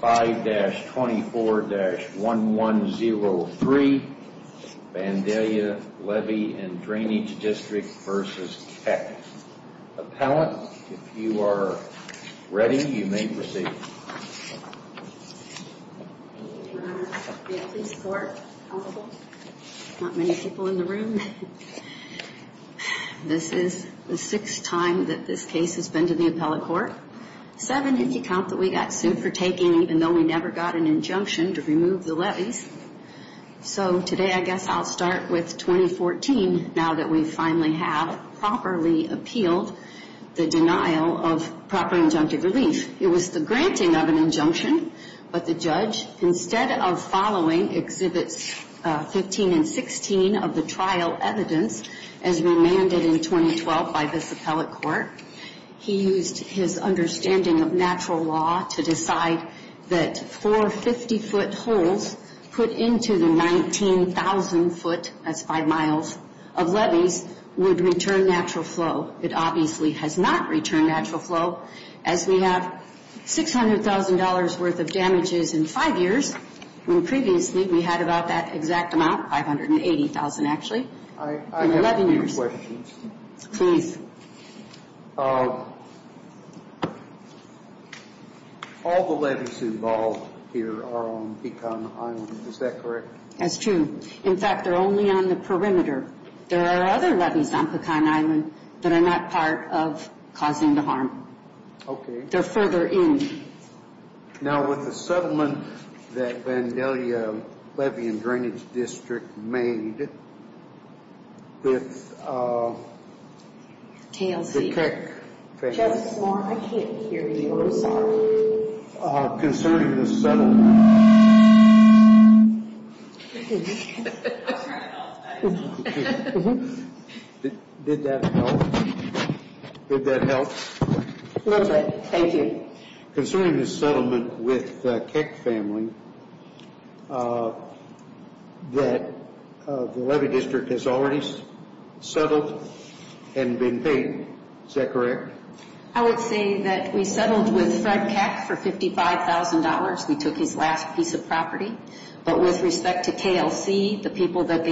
5-24-1103 Vandalia Levee & Drainage District v. Keck Appellant, if you are ready, you may proceed. Thank you, Your Honor. May I please report, counsel? Not many people in the room. This is the sixth time that this case has been to the appellate court. Seven if you count that we got sued for taking, even though we never got an injunction to remove the levees. So today I guess I'll start with 2014, now that we finally have properly appealed the denial of proper injunctive relief. It was the granting of an injunction, but the judge, instead of following Exhibits 15 and 16 of the trial evidence, as remanded in 2012 by this appellate court, he used his understanding of natural law to decide that four 50-foot holes put into the 19,000-foot, that's five miles, of levees would return natural flow. It obviously has not returned natural flow, as we have $600,000 worth of damages in five years, when previously we had about that exact amount, 580,000 actually. I have a few questions. All the levees involved here are on Pecan Island, is that correct? That's true. In fact, they're only on the perimeter. There are other levees on Pecan Island that are not part of causing the harm. Okay. They're further in. Now, with the settlement that Vandalia Levee and Drainage District made with the Keck… Justice Moore, I can't hear you. I'm sorry. Concerning the settlement… Did that help? Did that help? A little bit. Thank you. Okay. Concerning the settlement with the Keck family that the Levee District has already settled and been paid, is that correct? I would say that we settled with Fred Keck for $55,000. We took his last piece of property. But with respect to KLC, the people that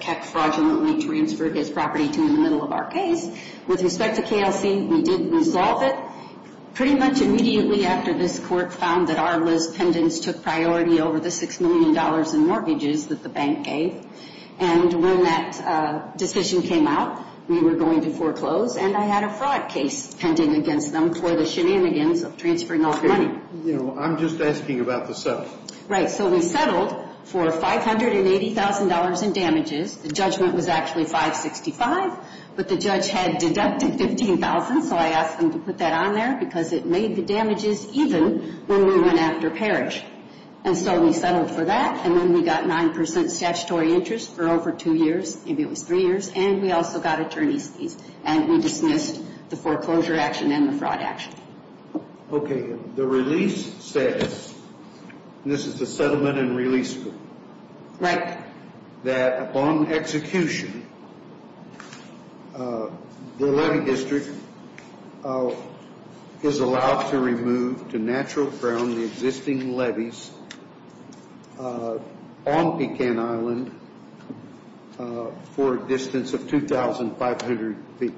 Keck fraudulently transferred his property to in the middle of our case, with respect to KLC, we did resolve it. Pretty much immediately after this, court found that Arla's pendants took priority over the $6 million in mortgages that the bank gave. And when that decision came out, we were going to foreclose. And I had a fraud case pending against them for the shenanigans of transferring all the money. I'm just asking about the settlement. Right. So we settled for $580,000 in damages. The judgment was actually 565. But the judge had deducted $15,000, so I asked them to put that on there because it made the damages even when we went after Parrish. And so we settled for that. And then we got 9% statutory interest for over two years. Maybe it was three years. And we also got attorney's fees. And we dismissed the foreclosure action and the fraud action. Okay. The release says, and this is the settlement and release form. Right. That upon execution, the levy district is allowed to remove to natural ground the existing levies on Pecan Island for a distance of 2,500 feet.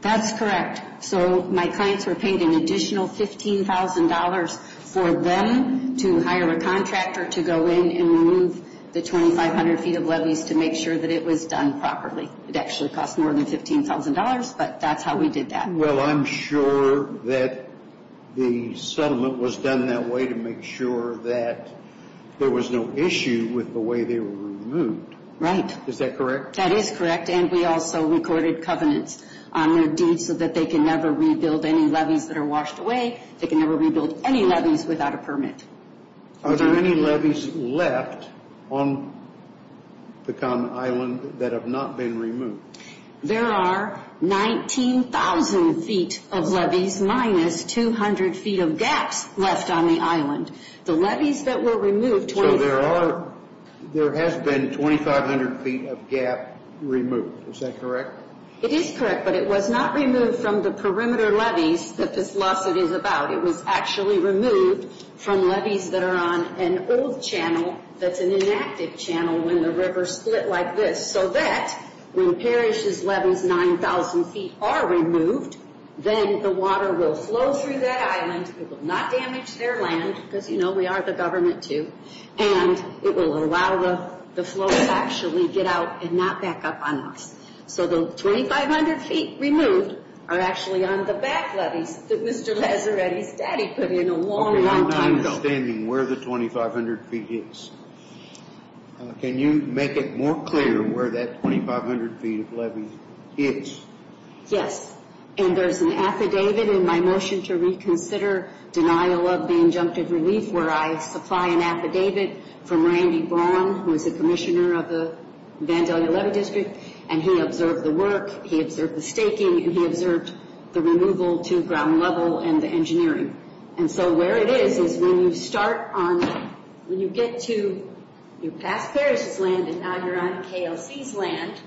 That's correct. So my clients were paying an additional $15,000 for them to hire a contractor to go in and remove the 2,500 feet of levies to make sure that it was done properly. It actually cost more than $15,000, but that's how we did that. Well, I'm sure that the settlement was done that way to make sure that there was no issue with the way they were removed. Right. Is that correct? That is correct. And we also recorded covenants on their deeds so that they can never rebuild any levies that are washed away. They can never rebuild any levies without a permit. Are there any levies left on Pecan Island that have not been removed? There are 19,000 feet of levies minus 200 feet of gaps left on the island. So there has been 2,500 feet of gap removed. Is that correct? It is correct, but it was not removed from the perimeter levies that this lawsuit is about. It was actually removed from levies that are on an old channel that's an inactive channel when the rivers split like this so that when Parrish's levies, 9,000 feet, are removed, then the water will flow through that island. It will not damage their land because, you know, we are the government, too, and it will allow the flow to actually get out and not back up on us. So the 2,500 feet removed are actually on the back levies that Mr. Lazzaretti's daddy put in a long, long time ago. Okay, I'm not understanding where the 2,500 feet is. Can you make it more clear where that 2,500 feet of levy is? Yes, and there's an affidavit in my motion to reconsider denial of the injunctive relief where I supply an affidavit from Randy Braun, who is the commissioner of the Vandalia Levy District, and he observed the work, he observed the staking, and he observed the removal to ground level and the engineering. And so where it is is when you start on, when you get to, you pass Parrish's land and now you're on KLC's land,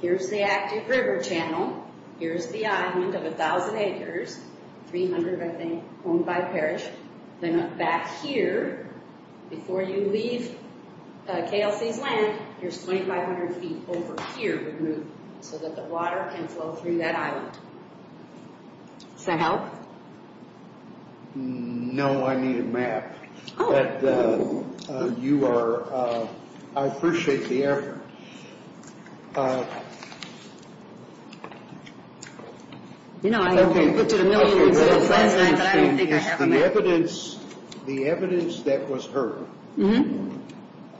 here's the active river channel, here's the island of 1,000 acres, 300, I think, owned by Parrish. Then back here, before you leave KLC's land, there's 2,500 feet over here removed so that the water can flow through that island. Does that help? No, I need a map. You are, I appreciate the effort. You know, I could put you to military service last night, but I don't think I have a map. The evidence that was heard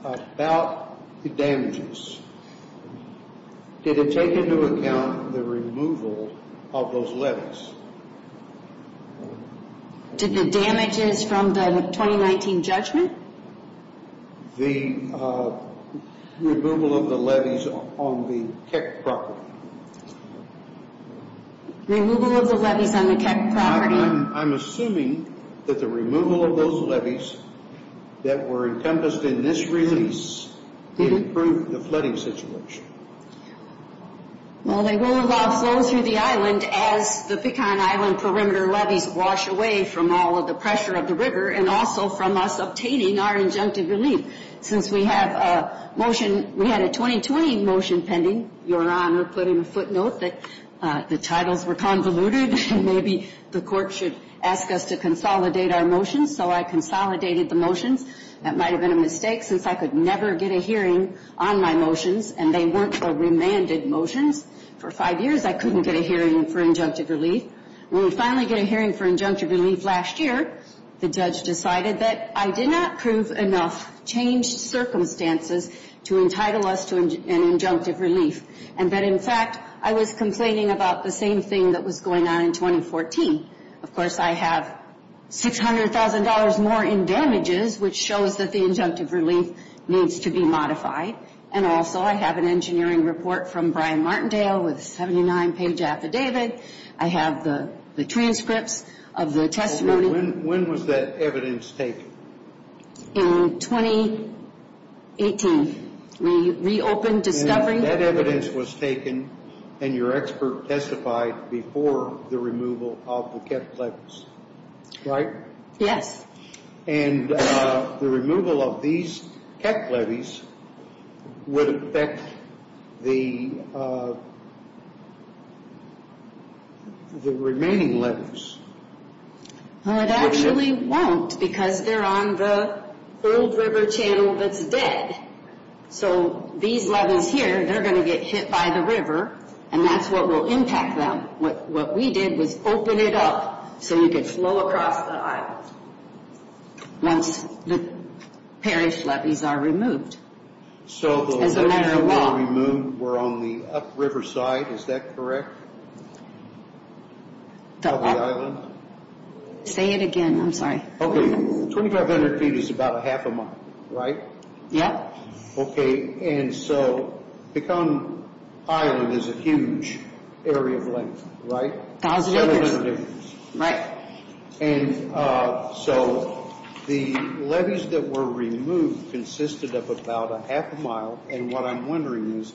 about the damages, did it take into account the removal of those levees? Did the damages from the 2019 judgment? The removal of the levees on the Keck property. Removal of the levees on the Keck property? I'm assuming that the removal of those levees that were encompassed in this release would improve the flooding situation. Well, they will allow flow through the island as the Pecan Island perimeter levees wash away from all of the pressure of the river and also from us obtaining our injunctive relief. Since we have a motion, we had a 2020 motion pending, Your Honor put in a footnote that the titles were convoluted and maybe the court should ask us to consolidate our motions, so I consolidated the motions. That might have been a mistake since I could never get a hearing on my motions and they weren't the remanded motions. For five years, I couldn't get a hearing for injunctive relief. When we finally get a hearing for injunctive relief last year, the judge decided that I did not prove enough changed circumstances to entitle us to an injunctive relief. And that in fact, I was complaining about the same thing that was going on in 2014. Of course, I have $600,000 more in damages, which shows that the injunctive relief needs to be modified. And also, I have an engineering report from Brian Martindale with a 79-page affidavit. I have the transcripts of the testimony. When was that evidence taken? In 2018. We reopened discovery. That evidence was taken and your expert testified before the removal of the Keck levees, right? Yes. And the removal of these Keck levees would affect the remaining levees. It actually won't because they're on the old river channel that's dead. So these levees here, they're going to get hit by the river, and that's what will impact them. What we did was open it up so you could flow across the island once the parish levees are removed. So the levees that were removed were on the upriver side, is that correct? The island? Say it again, I'm sorry. Okay, 2,500 feet is about a half a mile, right? Yeah. Okay, and so the island is a huge area of length, right? 1,000 acres. Right. And so the levees that were removed consisted of about a half a mile, and what I'm wondering is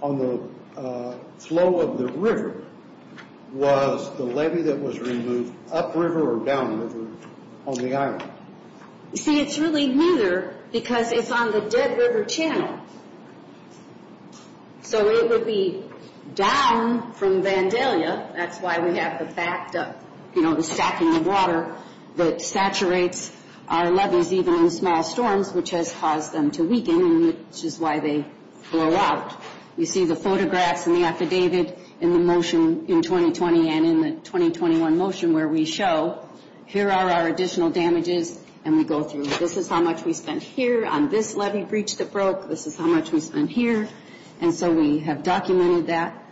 on the flow of the river, was the levee that was removed upriver or downriver on the island? You see, it's really neither because it's on the dead river channel. So it would be down from Vandalia, that's why we have the stacked up, you know, the stacking of water that saturates our levees even in small storms, which has caused them to weaken, which is why they flow out. You see the photographs and the affidavit and the motion in 2020 and in the 2021 motion where we show, here are our additional damages, and we go through, this is how much we spent here on this levee breach that broke, this is how much we spent here, and so we have documented that.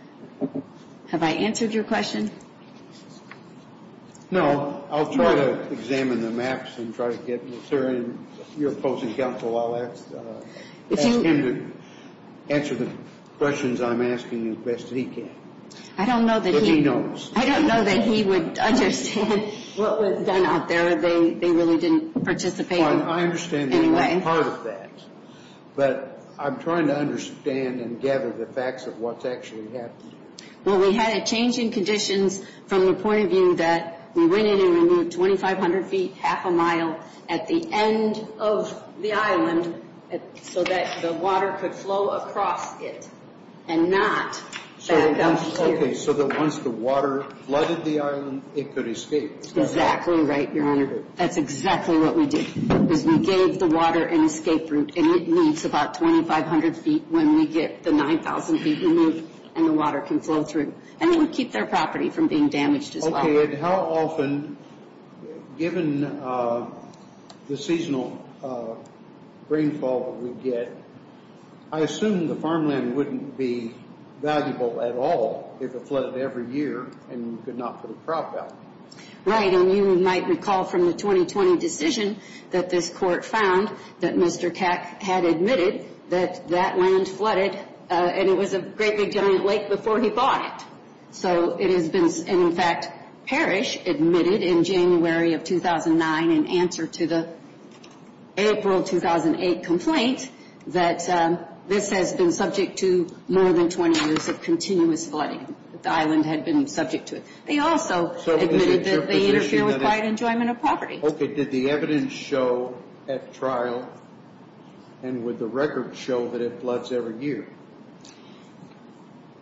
Have I answered your question? No, I'll try to examine the maps and try to get Mr. and your opposing counsel, I'll ask him to answer the questions I'm asking as best as he can. I don't know that he would understand. I don't understand what was done out there. They really didn't participate in any way. I understand that you're part of that, but I'm trying to understand and gather the facts of what's actually happened here. Well, we had a change in conditions from the point of view that we went in and removed 2,500 feet, half a mile at the end of the island so that the water could flow across it and not back up here. Okay, so that once the water flooded the island, it could escape. Exactly right, Your Honor. That's exactly what we did, is we gave the water an escape route, and it leaves about 2,500 feet when we get the 9,000 feet removed, and the water can flow through, and it would keep their property from being damaged as well. Okay, and how often, given the seasonal rainfall that we get, I assume the farmland wouldn't be valuable at all if it flooded every year and you could not put a crop out. Right, and you might recall from the 2020 decision that this court found that Mr. Keck had admitted that that land flooded, and it was a great big giant lake before he bought it. So it has been, in fact, Parrish admitted in January of 2009, in answer to the April 2008 complaint, that this has been subject to more than 20 years of continuous flooding. The island had been subject to it. They also admitted that they interfere with quiet enjoyment of property. Okay, did the evidence show at trial, and would the record show that it floods every year?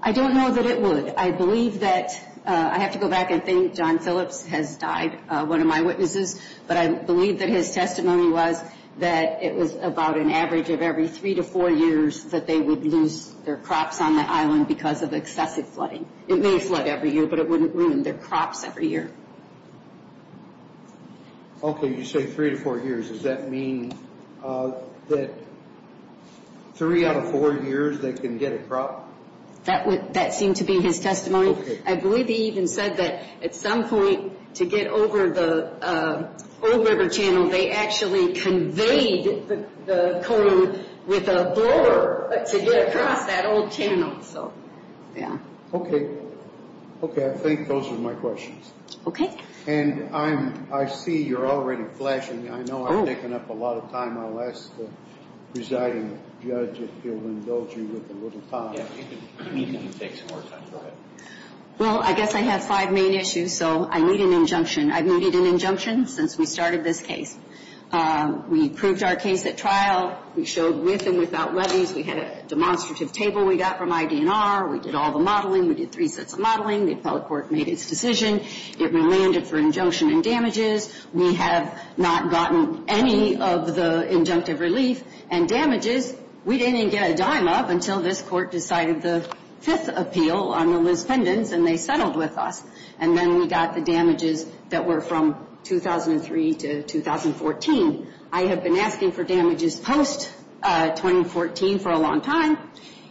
I don't know that it would. I believe that, I have to go back and think, John Phillips has died, one of my witnesses, but I believe that his testimony was that it was about an average of every three to four years that they would lose their crops on the island because of excessive flooding. It may flood every year, but it wouldn't ruin their crops every year. Okay, you say three to four years. Does that mean that three out of four years they can get a crop? That seemed to be his testimony. I believe he even said that at some point to get over the old river channel, they actually conveyed the cone with a blower to get across that old channel. Okay, I think those are my questions. Okay. And I see you're already flashing me. I know I'm taking up a lot of time. I'll ask the presiding judge if he'll indulge me with a little time. You can take some more time. Go ahead. Well, I guess I have five main issues, so I need an injunction. I've needed an injunction since we started this case. We proved our case at trial. We showed with and without levees. We had a demonstrative table we got from ID&R. We did all the modeling. We did three sets of modeling. The appellate court made its decision. It relanded for injunction and damages. We have not gotten any of the injunctive relief and damages. We didn't even get a dime of until this court decided the fifth appeal on the Liz Pendens, and they settled with us. And then we got the damages that were from 2003 to 2014. I have been asking for damages post-2014 for a long time.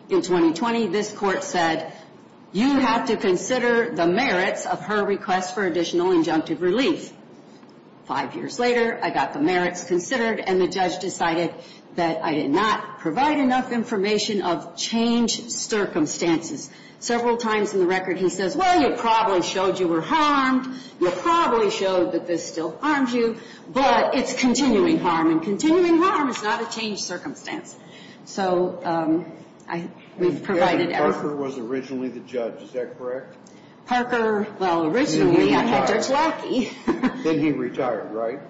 In 2020, this court said, you have to consider the merits of her request for additional injunctive relief. Five years later, I got the merits considered, and the judge decided that I did not provide enough information of changed circumstances. Several times in the record he says, well, you probably showed you were harmed. You probably showed that this still harms you, but it's continuing harm, and continuing harm is not a changed circumstance. So we've provided- Parker was originally the judge. Is that correct? Parker, well, originally I had Judge Lackey. Then he retired, right?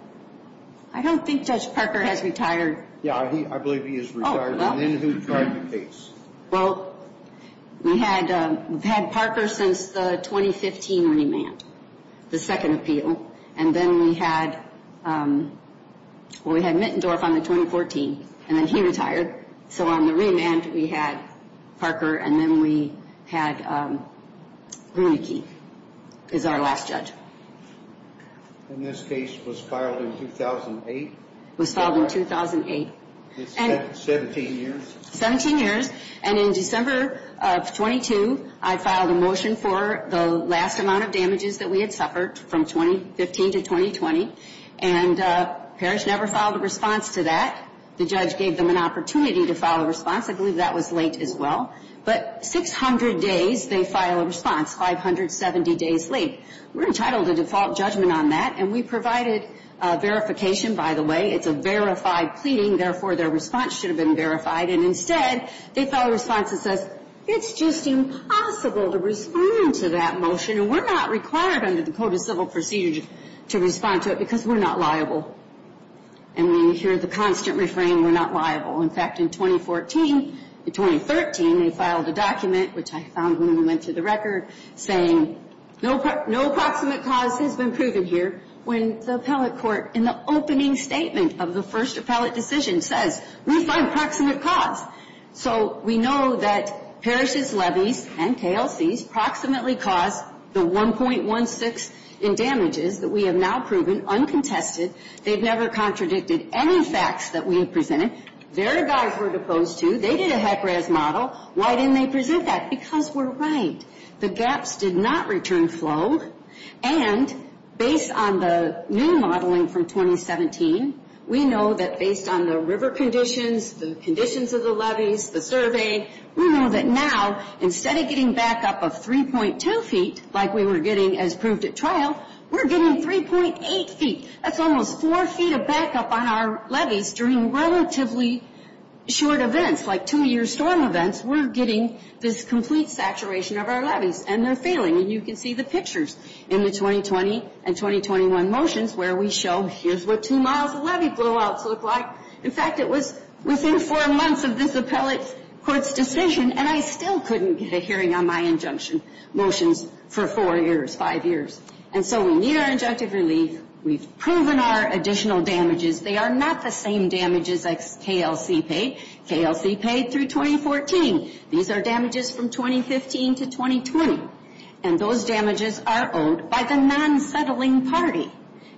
I don't think Judge Parker has retired. Yeah, I believe he has retired. And then who tried the case? Well, we've had Parker since the 2015 remand, the second appeal. And then we had, well, we had Mittendorf on the 2014, and then he retired. So on the remand, we had Parker, and then we had Rooneyke is our last judge. And this case was filed in 2008? It was filed in 2008. 17 years. 17 years, and in December of 22, I filed a motion for the last amount of damages that we had suffered from 2015 to 2020, and Parrish never filed a response to that. The judge gave them an opportunity to file a response. I believe that was late as well. But 600 days they file a response, 570 days late. We're entitled to default judgment on that, and we provided verification, by the way. It's a verified pleading, therefore their response should have been verified. And instead, they file a response that says, it's just impossible to respond to that motion, and we're not required under the Code of Civil Procedure to respond to it because we're not liable. And we hear the constant refrain, we're not liable. In fact, in 2014, in 2013, they filed a document, which I found when we went through the record, saying no proximate cause has been proven here when the appellate court, in the opening statement of the first appellate decision, says we find proximate cause. So we know that Parrish's levies and KLC's proximately caused the 1.16 in damages that we have now proven uncontested. They've never contradicted any facts that we presented. Their guys were opposed to. They did a HEC-RAS model. Why didn't they present that? Because we're right. The gaps did not return flow. And based on the new modeling from 2017, we know that based on the river conditions, the conditions of the levies, the survey, we know that now, instead of getting backup of 3.2 feet, like we were getting as proved at trial, we're getting 3.8 feet. That's almost four feet of backup on our levies during relatively short events, like two-year storm events, we're getting this complete saturation of our levies. And they're failing. And you can see the pictures in the 2020 and 2021 motions where we show here's what two miles of levy blowouts look like. In fact, it was within four months of this appellate court's decision, and I still couldn't get a hearing on my injunction motions for four years, five years. And so we need our injunctive relief. We've proven our additional damages. They are not the same damages as KLC paid. KLC paid through 2014. These are damages from 2015 to 2020. And those damages are owed by the non-settling party.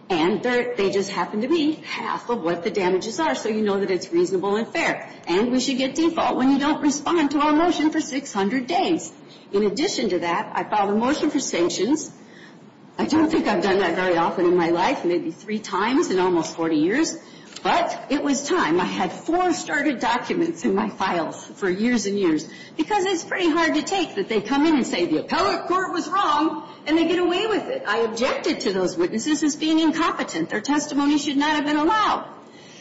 And they just happen to be half of what the damages are, so you know that it's reasonable and fair. And we should get default when you don't respond to our motion for 600 days. In addition to that, I filed a motion for sanctions. I don't think I've done that very often in my life, maybe three times in almost 40 years, but it was time. I had four started documents in my files for years and years, because it's pretty hard to take that they come in and say the appellate court was wrong and they get away with it. I objected to those witnesses as being incompetent. Their testimony should not have been allowed.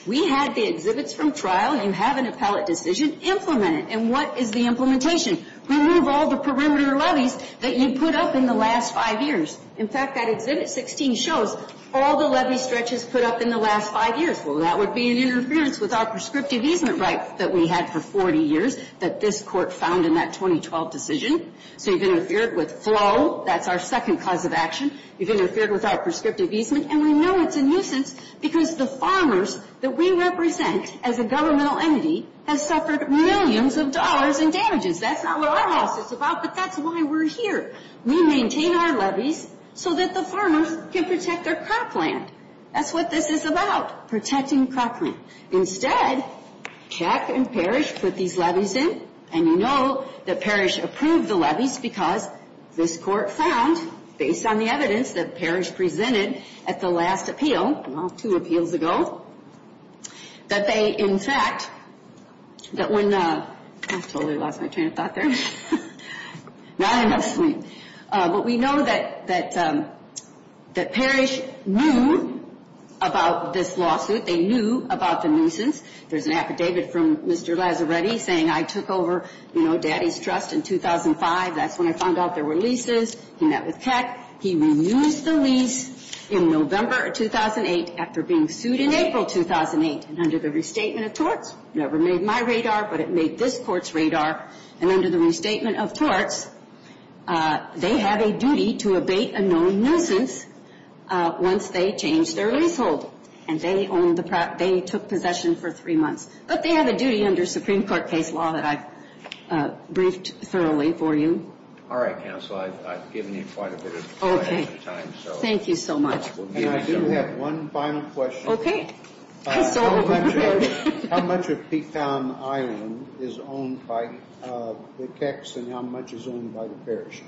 We had the exhibits from trial. You have an appellate decision. Implement it. And what is the implementation? Remove all the perimeter levies that you put up in the last five years. In fact, that exhibit 16 shows all the levy stretches put up in the last five years. That would be an interference with our prescriptive easement right that we had for 40 years that this court found in that 2012 decision. So you've interfered with flow. That's our second cause of action. You've interfered with our prescriptive easement, and we know it's a nuisance because the farmers that we represent as a governmental entity have suffered millions of dollars in damages. That's not what our house is about, but that's why we're here. We maintain our levies so that the farmers can protect their cropland. That's what this is about, protecting cropland. Instead, Keck and Parrish put these levies in, and you know that Parrish approved the levies because this court found, based on the evidence that Parrish presented at the last appeal, well, two appeals ago, that they, in fact, that when the – I totally lost my train of thought there. Now I'm asleep. But we know that Parrish knew about this lawsuit. They knew about the nuisance. There's an affidavit from Mr. Lazzaretti saying, I took over, you know, daddy's trust in 2005. That's when I found out there were leases. He met with Keck. He reused the lease in November of 2008 after being sued in April 2008. And under the restatement of torts, never made my radar, but it made this court's radar. And under the restatement of torts, they have a duty to abate a known nuisance once they change their leasehold. And they took possession for three months. But they have a duty under Supreme Court case law that I've briefed thoroughly for you. All right, counsel. I've given you quite a bit of time. Thank you so much. And I do have one final question. Okay. How much of Peaktown Island is owned by the Kecks and how much is owned by the Parrish?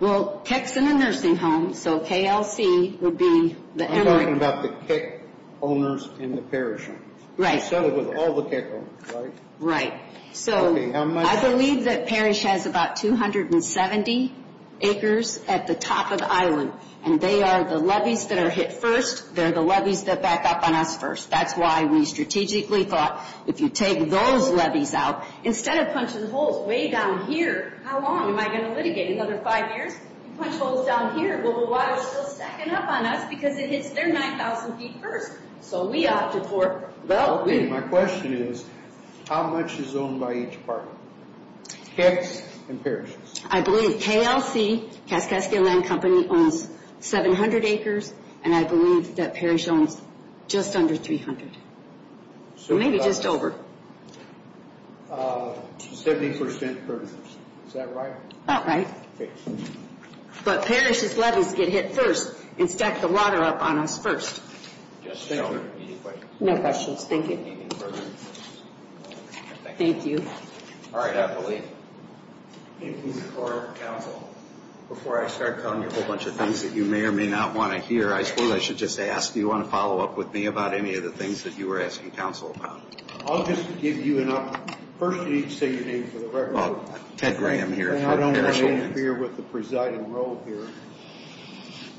Well, Keck's in a nursing home, so KLC would be the emerging. I'm talking about the Keck owners in the Parrish homes. Right. So it was all the Keck owners, right? Right. So I believe that Parrish has about 270 acres at the top of the island. And they are the levees that are hit first. They're the levees that back up on us first. That's why we strategically thought if you take those levees out, instead of punching holes way down here, how long am I going to litigate? Another five years? You punch holes down here. Well, the water's still stacking up on us because it hits their 9,000 feet first. So we opted for that. Okay. My question is how much is owned by each apartment? Kecks and Parrish. I believe KLC, Kaskaskia Land Company, owns 700 acres. And I believe that Parrish owns just under 300. Maybe just over. 70% per person. Is that right? About right. Okay. But Parrish's levees get hit first and stack the water up on us first. Thank you. Any questions? No questions. Thank you. Thank you. All right. I believe. Before I start telling you a whole bunch of things that you may or may not want to hear, I suppose I should just ask, do you want to follow up with me about any of the things that you were asking counsel about? I'll just give you an opportunity. First, you need to say your name for the record. Well, Ted Graham here for Parrish Holdings. And I don't want to interfere with the presiding role here.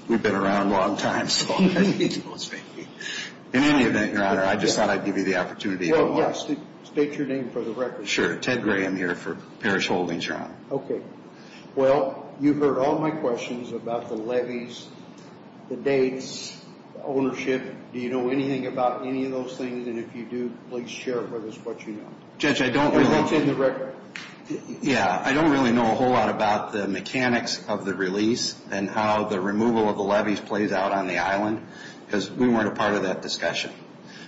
We've been around a long time, so I think you can both speak. In any event, Your Honor, I just thought I'd give you the opportunity. Well, yes. State your name for the record. Sure. Ted Graham here for Parrish Holdings, Your Honor. Okay. Well, you've heard all my questions about the levees, the dates, ownership. Do you know anything about any of those things? And if you do, please share with us what you know. Judge, I don't really know a whole lot about the mechanics of the release and how the removal of the levees plays out on the island because we weren't a part of that discussion.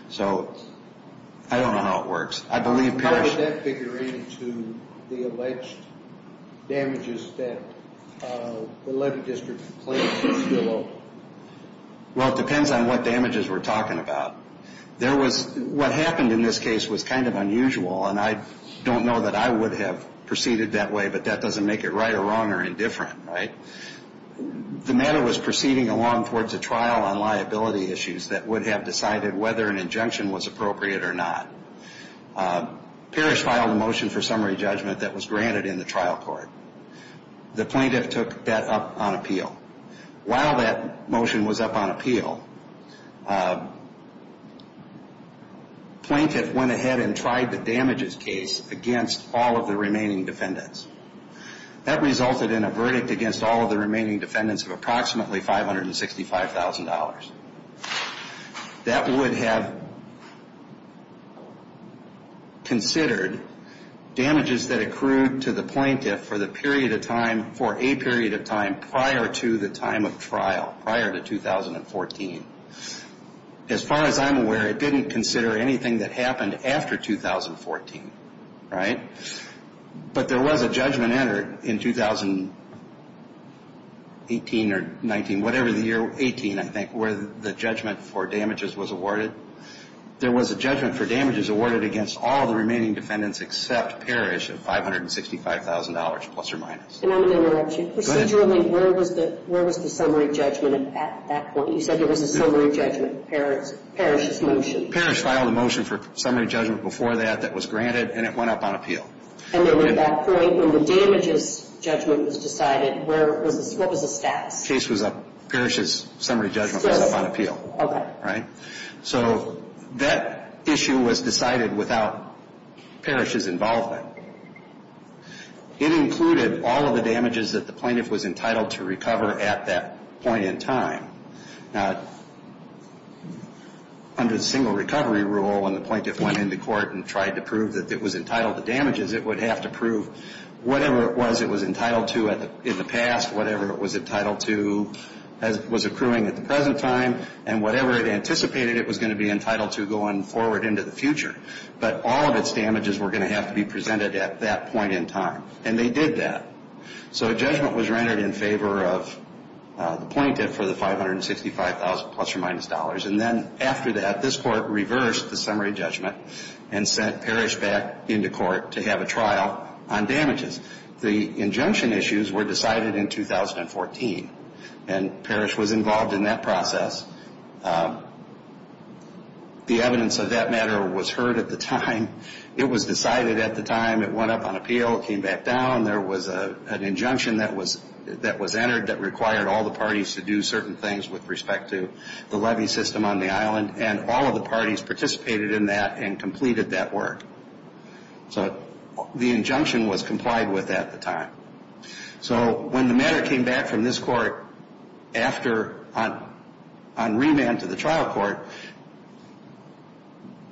So I don't know how it works. I believe Parrish What does that figure into the alleged damages that the levee district claims to be still owed? Well, it depends on what damages we're talking about. What happened in this case was kind of unusual, and I don't know that I would have proceeded that way, but that doesn't make it right or wrong or indifferent, right? The matter was proceeding along towards a trial on liability issues that would have decided whether an injunction was appropriate or not. Parrish filed a motion for summary judgment that was granted in the trial court. The plaintiff took that up on appeal. While that motion was up on appeal, plaintiff went ahead and tried the damages case against all of the remaining defendants. That resulted in a verdict against all of the remaining defendants of approximately $565,000. That would have considered damages that accrued to the plaintiff for the period of time, for a period of time prior to the time of trial, prior to 2014. As far as I'm aware, it didn't consider anything that happened after 2014, right? But there was a judgment entered in 2018 or 19, whatever the year, 18, I think, where the judgment for damages was awarded. There was a judgment for damages awarded against all of the remaining defendants except Parrish of $565,000, plus or minus. And I'm going to interrupt you. Go ahead. Procedurally, where was the summary judgment at that point? You said there was a summary judgment, Parrish's motion. Parrish filed a motion for summary judgment before that that was granted, and it went up on appeal. And then at that point, when the damages judgment was decided, what was the stats? Parrish's summary judgment went up on appeal. Okay. Right? So that issue was decided without Parrish's involvement. It included all of the damages that the plaintiff was entitled to recover at that point in time. Under the single recovery rule, when the plaintiff went into court and tried to prove that it was entitled to damages, it would have to prove whatever it was it was entitled to in the past, whatever it was entitled to was accruing at the present time, and whatever it anticipated it was going to be entitled to going forward into the future. But all of its damages were going to have to be presented at that point in time. And they did that. So a judgment was rendered in favor of the plaintiff for the $565,000 plus or minus. And then after that, this court reversed the summary judgment and sent Parrish back into court to have a trial on damages. The injunction issues were decided in 2014, and Parrish was involved in that process. The evidence of that matter was heard at the time. It was decided at the time. It went up on appeal. It came back down. There was an injunction that was entered that required all the parties to do certain things with respect to the levy system on the island, and all of the parties participated in that and completed that work. So the injunction was complied with at the time. So when the matter came back from this court on remand to the trial court,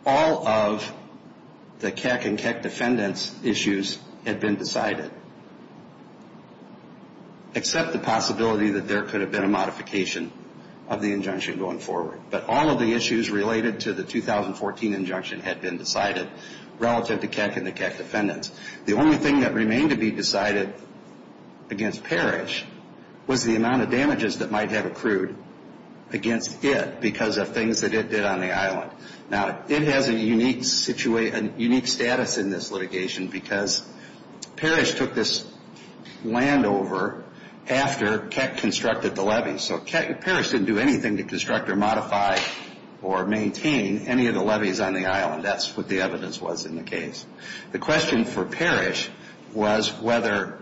all of the Keck and Keck defendants' issues had been decided, except the possibility that there could have been a modification of the injunction going forward. But all of the issues related to the 2014 injunction had been decided relative to Keck and the Keck defendants. The only thing that remained to be decided against Parrish was the amount of damages that might have accrued against it because of things that it did on the island. Now, it has a unique status in this litigation because Parrish took this land over after Keck constructed the levy. So Parrish didn't do anything to construct or modify or maintain any of the levies on the island. That's what the evidence was in the case. The question for Parrish was whether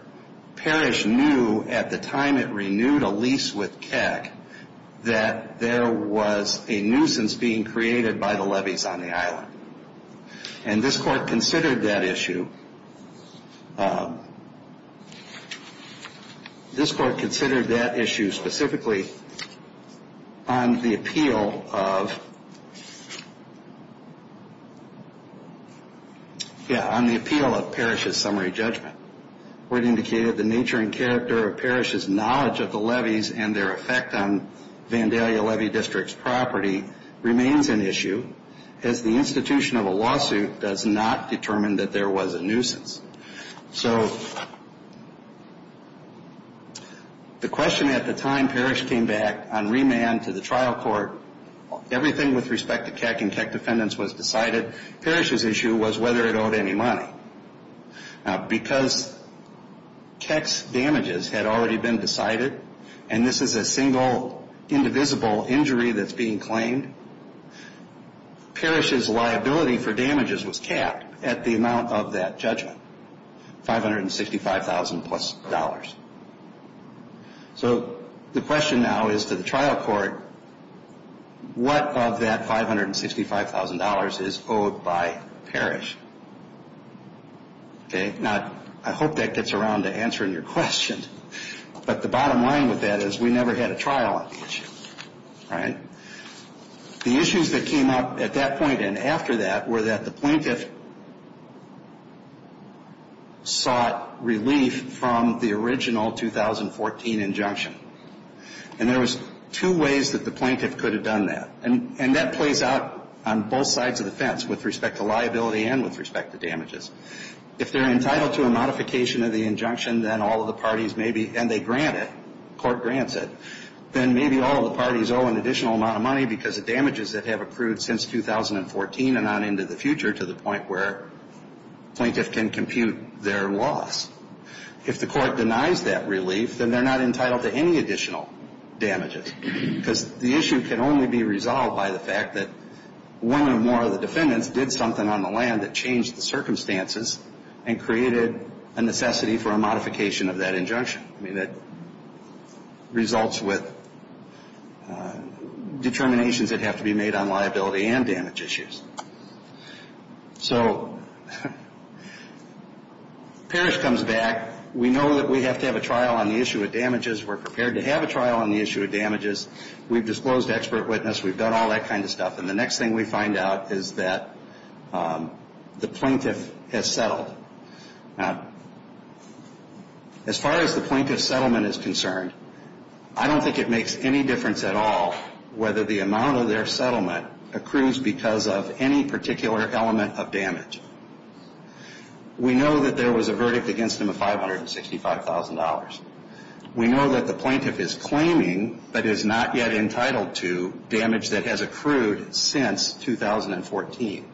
Parrish knew at the time it renewed a lease with Keck that there was a nuisance being created by the levies on the island. And this court considered that issue. This court considered that issue specifically on the appeal of Parrish's summary judgment where it indicated the nature and character of Parrish's knowledge of the levies and their effect on Vandalia Levy District's property remains an issue as the institution of a lawsuit does not determine that there was a nuisance. So the question at the time Parrish came back on remand to the trial court, everything with respect to Keck and Keck defendants was decided. Parrish's issue was whether it owed any money. Now because Keck's damages had already been decided and this is a single indivisible injury that's being claimed, Parrish's liability for damages was capped at the amount of that judgment, $565,000 plus. So the question now is to the trial court, what of that $565,000 is owed by Parrish? Now I hope that gets around to answering your question, but the bottom line with that is we never had a trial on the issue. The issues that came up at that point and after that were that the plaintiff sought relief from the original 2014 injunction. And there was two ways that the plaintiff could have done that, and that plays out on both sides of the fence with respect to liability and with respect to damages. If they're entitled to a modification of the injunction then all of the parties may be, and they grant it, the court grants it, then maybe all of the parties owe an additional amount of money because of damages that have accrued since 2014 and on into the future to the point where the plaintiff can compute their loss. If the court denies that relief, then they're not entitled to any additional damages because the issue can only be resolved by the fact that one or more of the defendants did something on the land that changed the circumstances and created a necessity for a modification of that injunction. I mean, that results with determinations that have to be made on liability and damage issues. So Parrish comes back. We know that we have to have a trial on the issue of damages. We're prepared to have a trial on the issue of damages. We've disclosed expert witness. We've done all that kind of stuff. And the next thing we find out is that the plaintiff has settled. Now, as far as the plaintiff's settlement is concerned, I don't think it makes any difference at all whether the amount of their settlement accrues because of any particular element of damage. We know that there was a verdict against him of $565,000. We know that the plaintiff is claiming but is not yet entitled to damage that has accrued since 2014.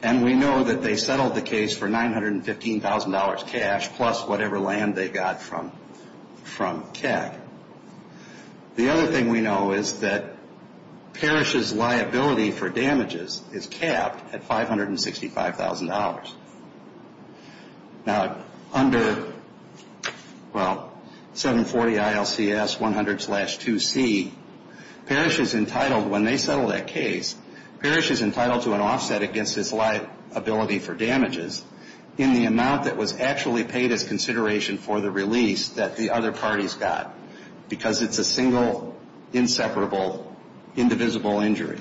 And we know that they settled the case for $915,000 cash plus whatever land they got from CAC. The other thing we know is that Parrish's liability for damages is capped at $565,000. Now, under 740 ILCS 100-2C, Parrish is entitled, when they settle that case, Parrish is entitled to an offset against his liability for damages in the amount that was actually paid as consideration for the release that the other parties got because it's a single, inseparable, indivisible injury.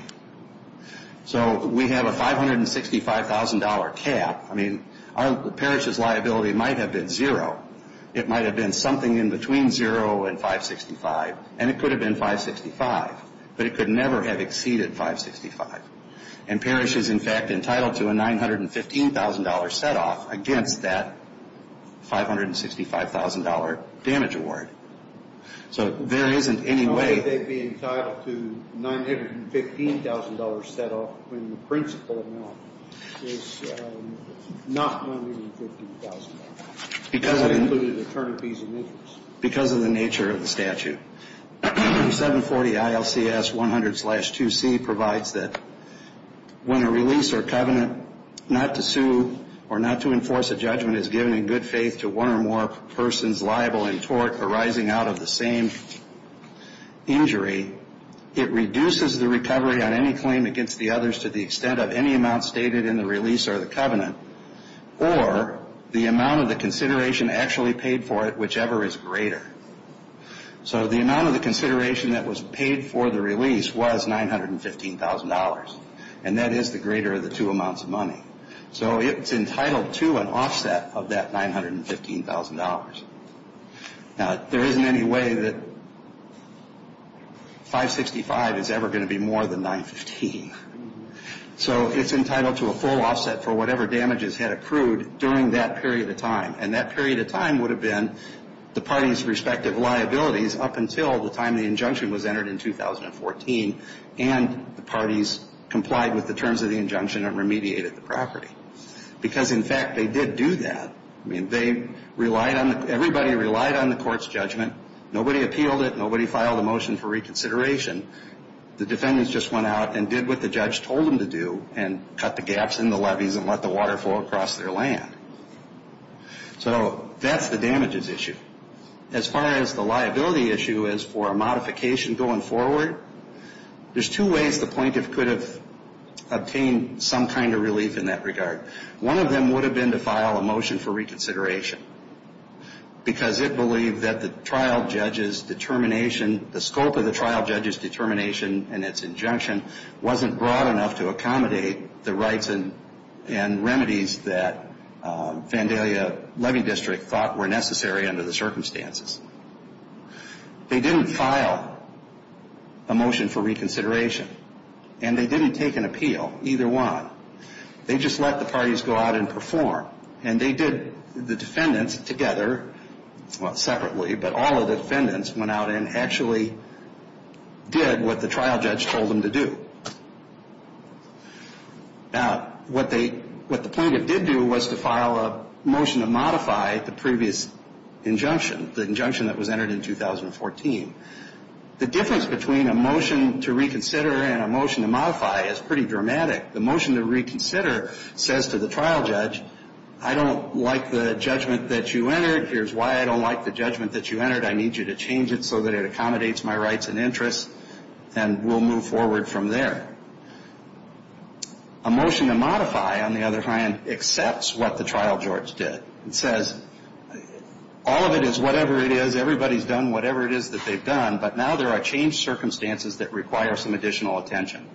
So we have a $565,000 cap. I mean, Parrish's liability might have been zero. It might have been something in between zero and 565, and it could have been 565. But it could never have exceeded 565. And Parrish is, in fact, entitled to a $915,000 set-off against that $565,000 damage award. So there isn't any way they'd be entitled to a $915,000 set-off when the principal amount is not $915,000. Because it included attorneys fees and interest. Because of the nature of the statute. 740 ILCS 100-2C provides that when a release or covenant not to sue or not to enforce a judgment is given in good faith to one or more persons liable in tort arising out of the same injury, it reduces the recovery on any claim against the others to the extent of any amount stated in the release or the covenant or the amount of the consideration actually paid for it, whichever is greater. So the amount of the consideration that was paid for the release was $915,000. And that is the greater of the two amounts of money. So it's entitled to an offset of that $915,000. Now, there isn't any way that 565 is ever going to be more than 915. So it's entitled to a full offset for whatever damages had accrued during that period of time. And that period of time would have been the parties' respective liabilities up until the time the injunction was entered in 2014 and the parties complied with the terms of the injunction and remediated the property. Because, in fact, they did do that. I mean, they relied on the – everybody relied on the court's judgment. Nobody appealed it. Nobody filed a motion for reconsideration. The defendants just went out and did what the judge told them to do and cut the gaps in the levees and let the water flow across their land. So that's the damages issue. As far as the liability issue is for a modification going forward, there's two ways the plaintiff could have obtained some kind of relief in that regard. One of them would have been to file a motion for reconsideration because it believed that the trial judge's determination – the scope of the trial judge's determination and its injunction wasn't broad enough to accommodate the rights and remedies that Vandalia Levy District thought were necessary under the circumstances. They didn't file a motion for reconsideration and they didn't take an appeal, either one. They just let the parties go out and perform. And they did – the defendants together – well, separately, but all the defendants went out and actually did what the trial judge told them to do. Now, what the plaintiff did do was to file a motion to modify the previous injunction, the injunction that was entered in 2014. The difference between a motion to reconsider and a motion to modify is pretty dramatic. The motion to reconsider says to the trial judge, I don't like the judgment that you entered. Here's why I don't like the judgment that you entered. I need you to change it so that it accommodates my rights and interests, and we'll move forward from there. A motion to modify, on the other hand, accepts what the trial judge did. It says all of it is whatever it is. Everybody's done whatever it is that they've done, but now there are changed circumstances that require some additional attention.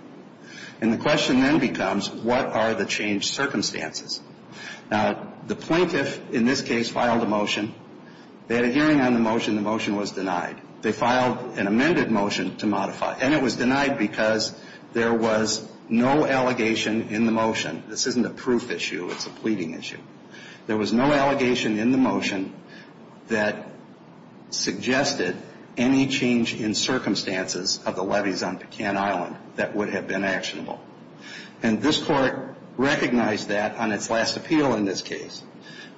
And the question then becomes, what are the changed circumstances? Now, the plaintiff, in this case, filed a motion. They had a hearing on the motion. The motion was denied. They filed an amended motion to modify, and it was denied because there was no allegation in the motion. This isn't a proof issue. It's a pleading issue. There was no allegation in the motion that suggested any change in circumstances of the levies on Pecan Island that would have been actionable. And this court recognized that on its last appeal in this case.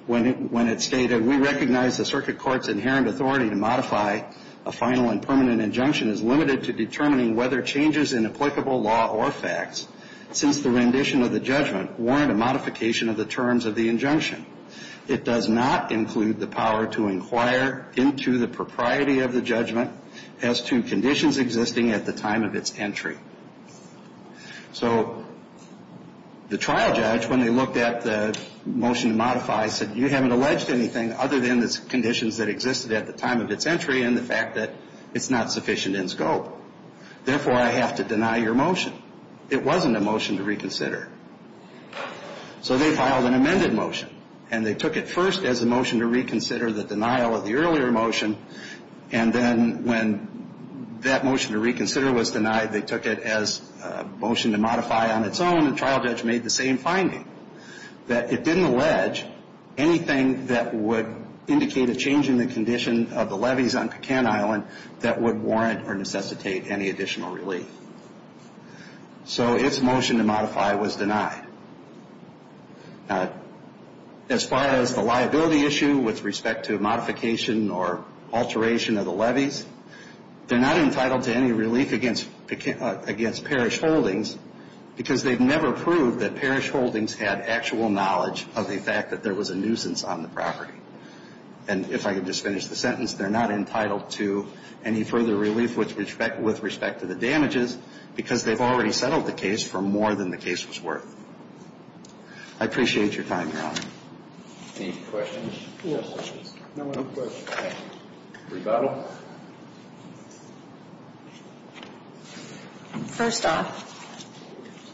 When it stated, we recognize the circuit court's inherent authority to modify a final and permanent injunction is limited to determining whether changes in applicable law or facts since the rendition of the judgment warrant a modification of the terms of the injunction. It does not include the power to inquire into the propriety of the judgment as to conditions existing at the time of its entry. So the trial judge, when they looked at the motion to modify, said, you haven't alleged anything other than the conditions that existed at the time of its entry and the fact that it's not sufficient in scope. Therefore, I have to deny your motion. It wasn't a motion to reconsider. So they filed an amended motion, and they took it first as a motion to reconsider the denial of the earlier motion, and then when that motion to reconsider was denied, they took it as a motion to modify on its own, and the trial judge made the same finding, that it didn't allege anything that would indicate a change in the condition of the levies on Pecan Island that would warrant or necessitate any additional relief. So its motion to modify was denied. As far as the liability issue with respect to modification or alteration of the levies, they're not entitled to any relief against Parrish Holdings because they've never proved that Parrish Holdings had actual knowledge of the fact that there was a nuisance on the property. And if I could just finish the sentence, they're not entitled to any further relief with respect to the damages because they've already settled the case for more than the case was worth. I appreciate your time, Your Honor. Any questions? No questions. Rebuttal. First off,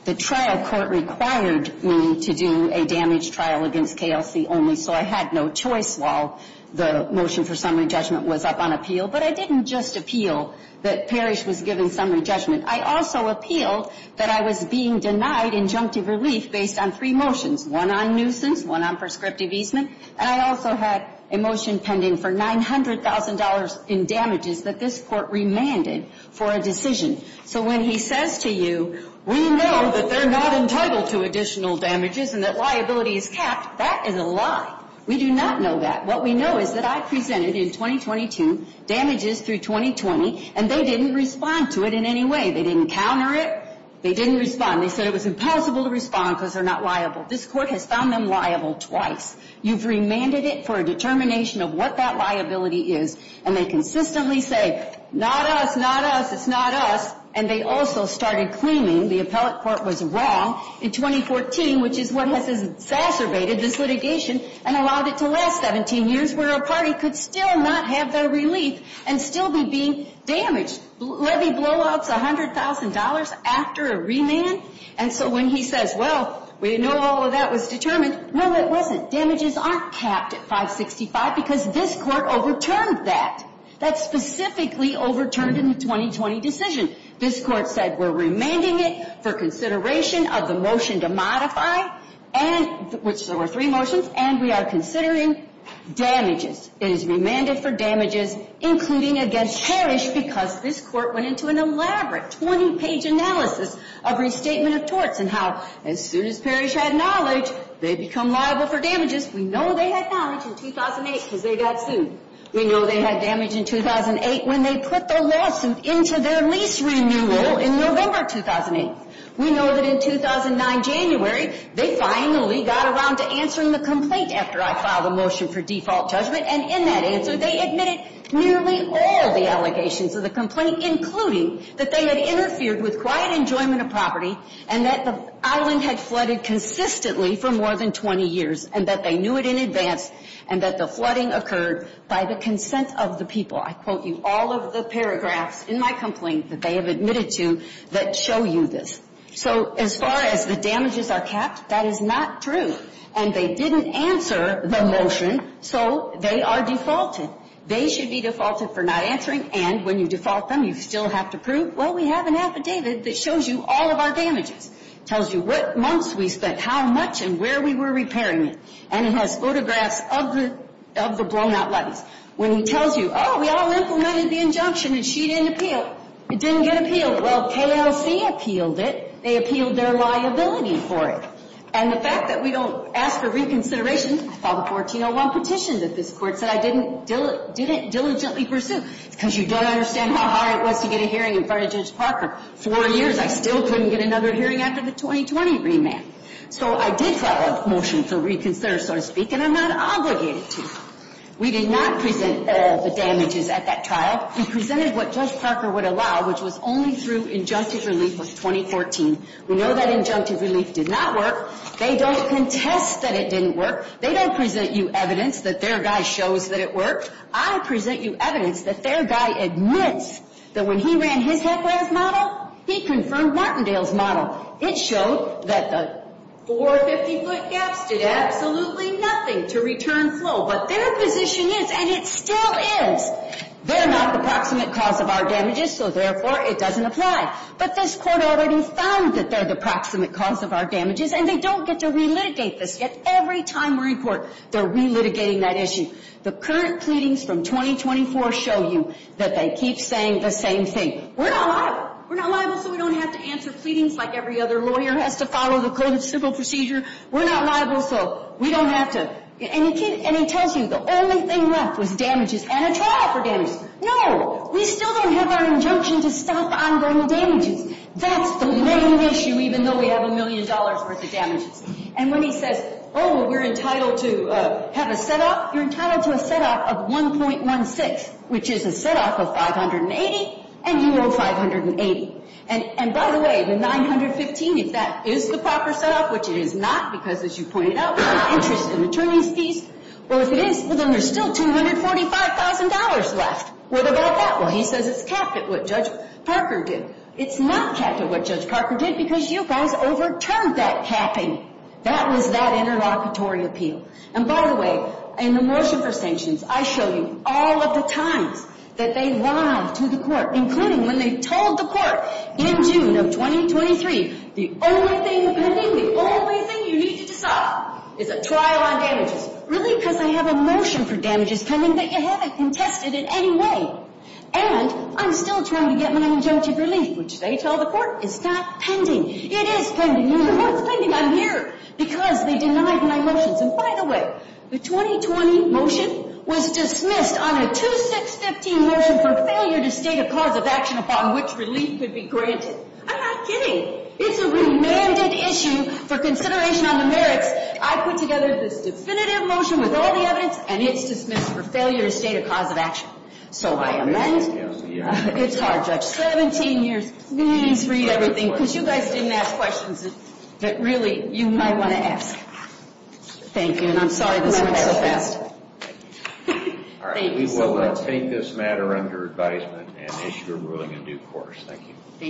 the trial court required me to do a damage trial against KLC only, so I had no choice while the motion for summary judgment was up on appeal, but I didn't just appeal that Parrish was given summary judgment. I also appealed that I was being denied injunctive relief based on three motions, one on nuisance, one on prescriptive easement, and I also had a motion pending for $900,000 in damages that this court remanded for a decision. So when he says to you, we know that they're not entitled to additional damages and that liability is capped, that is a lie. We do not know that. What we know is that I presented in 2022 damages through 2020, and they didn't respond to it in any way. They didn't counter it. They didn't respond. They said it was impossible to respond because they're not liable. This court has found them liable twice. You've remanded it for a determination of what that liability is, and they consistently say, not us, not us, it's not us, and they also started claiming the appellate court was wrong in 2014, which is what has exacerbated this litigation and allowed it to last 17 years where a party could still not have their relief and still be being damaged. Levy blowout's $100,000 after a remand, and so when he says, well, we know all of that was determined, no, it wasn't. Damages aren't capped at 565 because this court overturned that. That's specifically overturned in the 2020 decision. This court said we're remanding it for consideration of the motion to modify, which there were three motions, and we are considering damages. It is remanded for damages including against Parrish because this court went into an elaborate 20-page analysis of restatement of torts and how as soon as Parrish had knowledge, they become liable for damages. We know they had knowledge in 2008 because they got sued. We know they had damage in 2008 when they put their lawsuit into their lease renewal in November 2008. We know that in 2009 January, they finally got around to answering the complaint after I filed a motion for default judgment, and in that answer they admitted nearly all the allegations of the complaint, including that they had interfered with quiet enjoyment of property and that the island had flooded consistently for more than 20 years and that they knew it in advance and that the flooding occurred by the consent of the people. I quote you all of the paragraphs in my complaint that they have admitted to that show you this. So as far as the damages are capped, that is not true, and they didn't answer the motion, so they are defaulted. They should be defaulted for not answering, and when you default them, you still have to prove, well, we have an affidavit that shows you all of our damages. It tells you what months we spent, how much, and where we were repairing it, and it has photographs of the blown-out levees. When it tells you, oh, we all implemented the injunction and she didn't appeal, it didn't get appealed. Well, KLC appealed it. They appealed their liability for it. And the fact that we don't ask for reconsideration, I filed a 1401 petition that this Court said I didn't diligently pursue because you don't understand how hard it was to get a hearing in front of Judge Parker. Four years, I still couldn't get another hearing after the 2020 remand. So I did file a motion to reconsider, so to speak, and I'm not obligated to. We did not present the damages at that trial. We presented what Judge Parker would allow, which was only through injunctive relief of 2014. We know that injunctive relief did not work. They don't contest that it didn't work. They don't present you evidence that their guy shows that it worked. I present you evidence that their guy admits that when he ran his HEC-RAS model, he confirmed Martindale's model. It showed that the 450-foot gaps did absolutely nothing to return flow. But their position is, and it still is, they're not the proximate cause of our damages, so therefore it doesn't apply. But this Court already found that they're the proximate cause of our damages, and they don't get to relitigate this. Yet every time we're in court, they're relitigating that issue. The current pleadings from 2024 show you that they keep saying the same thing. We're not liable. We're not liable so we don't have to answer pleadings like every other lawyer has to follow the Code of Civil Procedure. We're not liable so we don't have to. And he tells you the only thing left was damages and a trial for damages. No, we still don't have our injunction to stop ongoing damages. That's the main issue, even though we have a million dollars' worth of damages. And when he says, oh, we're entitled to have a set-off, you're entitled to a set-off of 1.16, which is a set-off of 580, and you owe 580. And, by the way, the 915, if that is the proper set-off, which it is not because, as you pointed out, interest and attorney's fees, well, if it is, well, then there's still $245,000 left. What about that? Well, he says it's capped at what Judge Parker did. It's not capped at what Judge Parker did because you guys overturned that capping. That was that interlocutory appeal. And, by the way, in the motion for sanctions, I showed you all of the times that they lied to the court, including when they told the court in June of 2023 the only thing pending, the only thing you needed to stop is a trial on damages. Really? Because I have a motion for damages coming that you haven't contested in any way. And I'm still trying to get my injunctive relief, which they tell the court is not pending. It is pending. The court's pending. I'm here because they denied my motions. And, by the way, the 2020 motion was dismissed on a 2-6-15 motion for failure to state a cause of action upon which relief could be granted. I'm not kidding. It's a remanded issue for consideration on the merits. I put together this definitive motion with all the evidence, and it's dismissed for failure to state a cause of action. So I amend. It's hard, Judge. Please read everything, because you guys didn't ask questions that, really, you might want to ask. Thank you, and I'm sorry this went so fast. Thank you so much. We will take this matter under advisement and issue a ruling in due course. Thank you.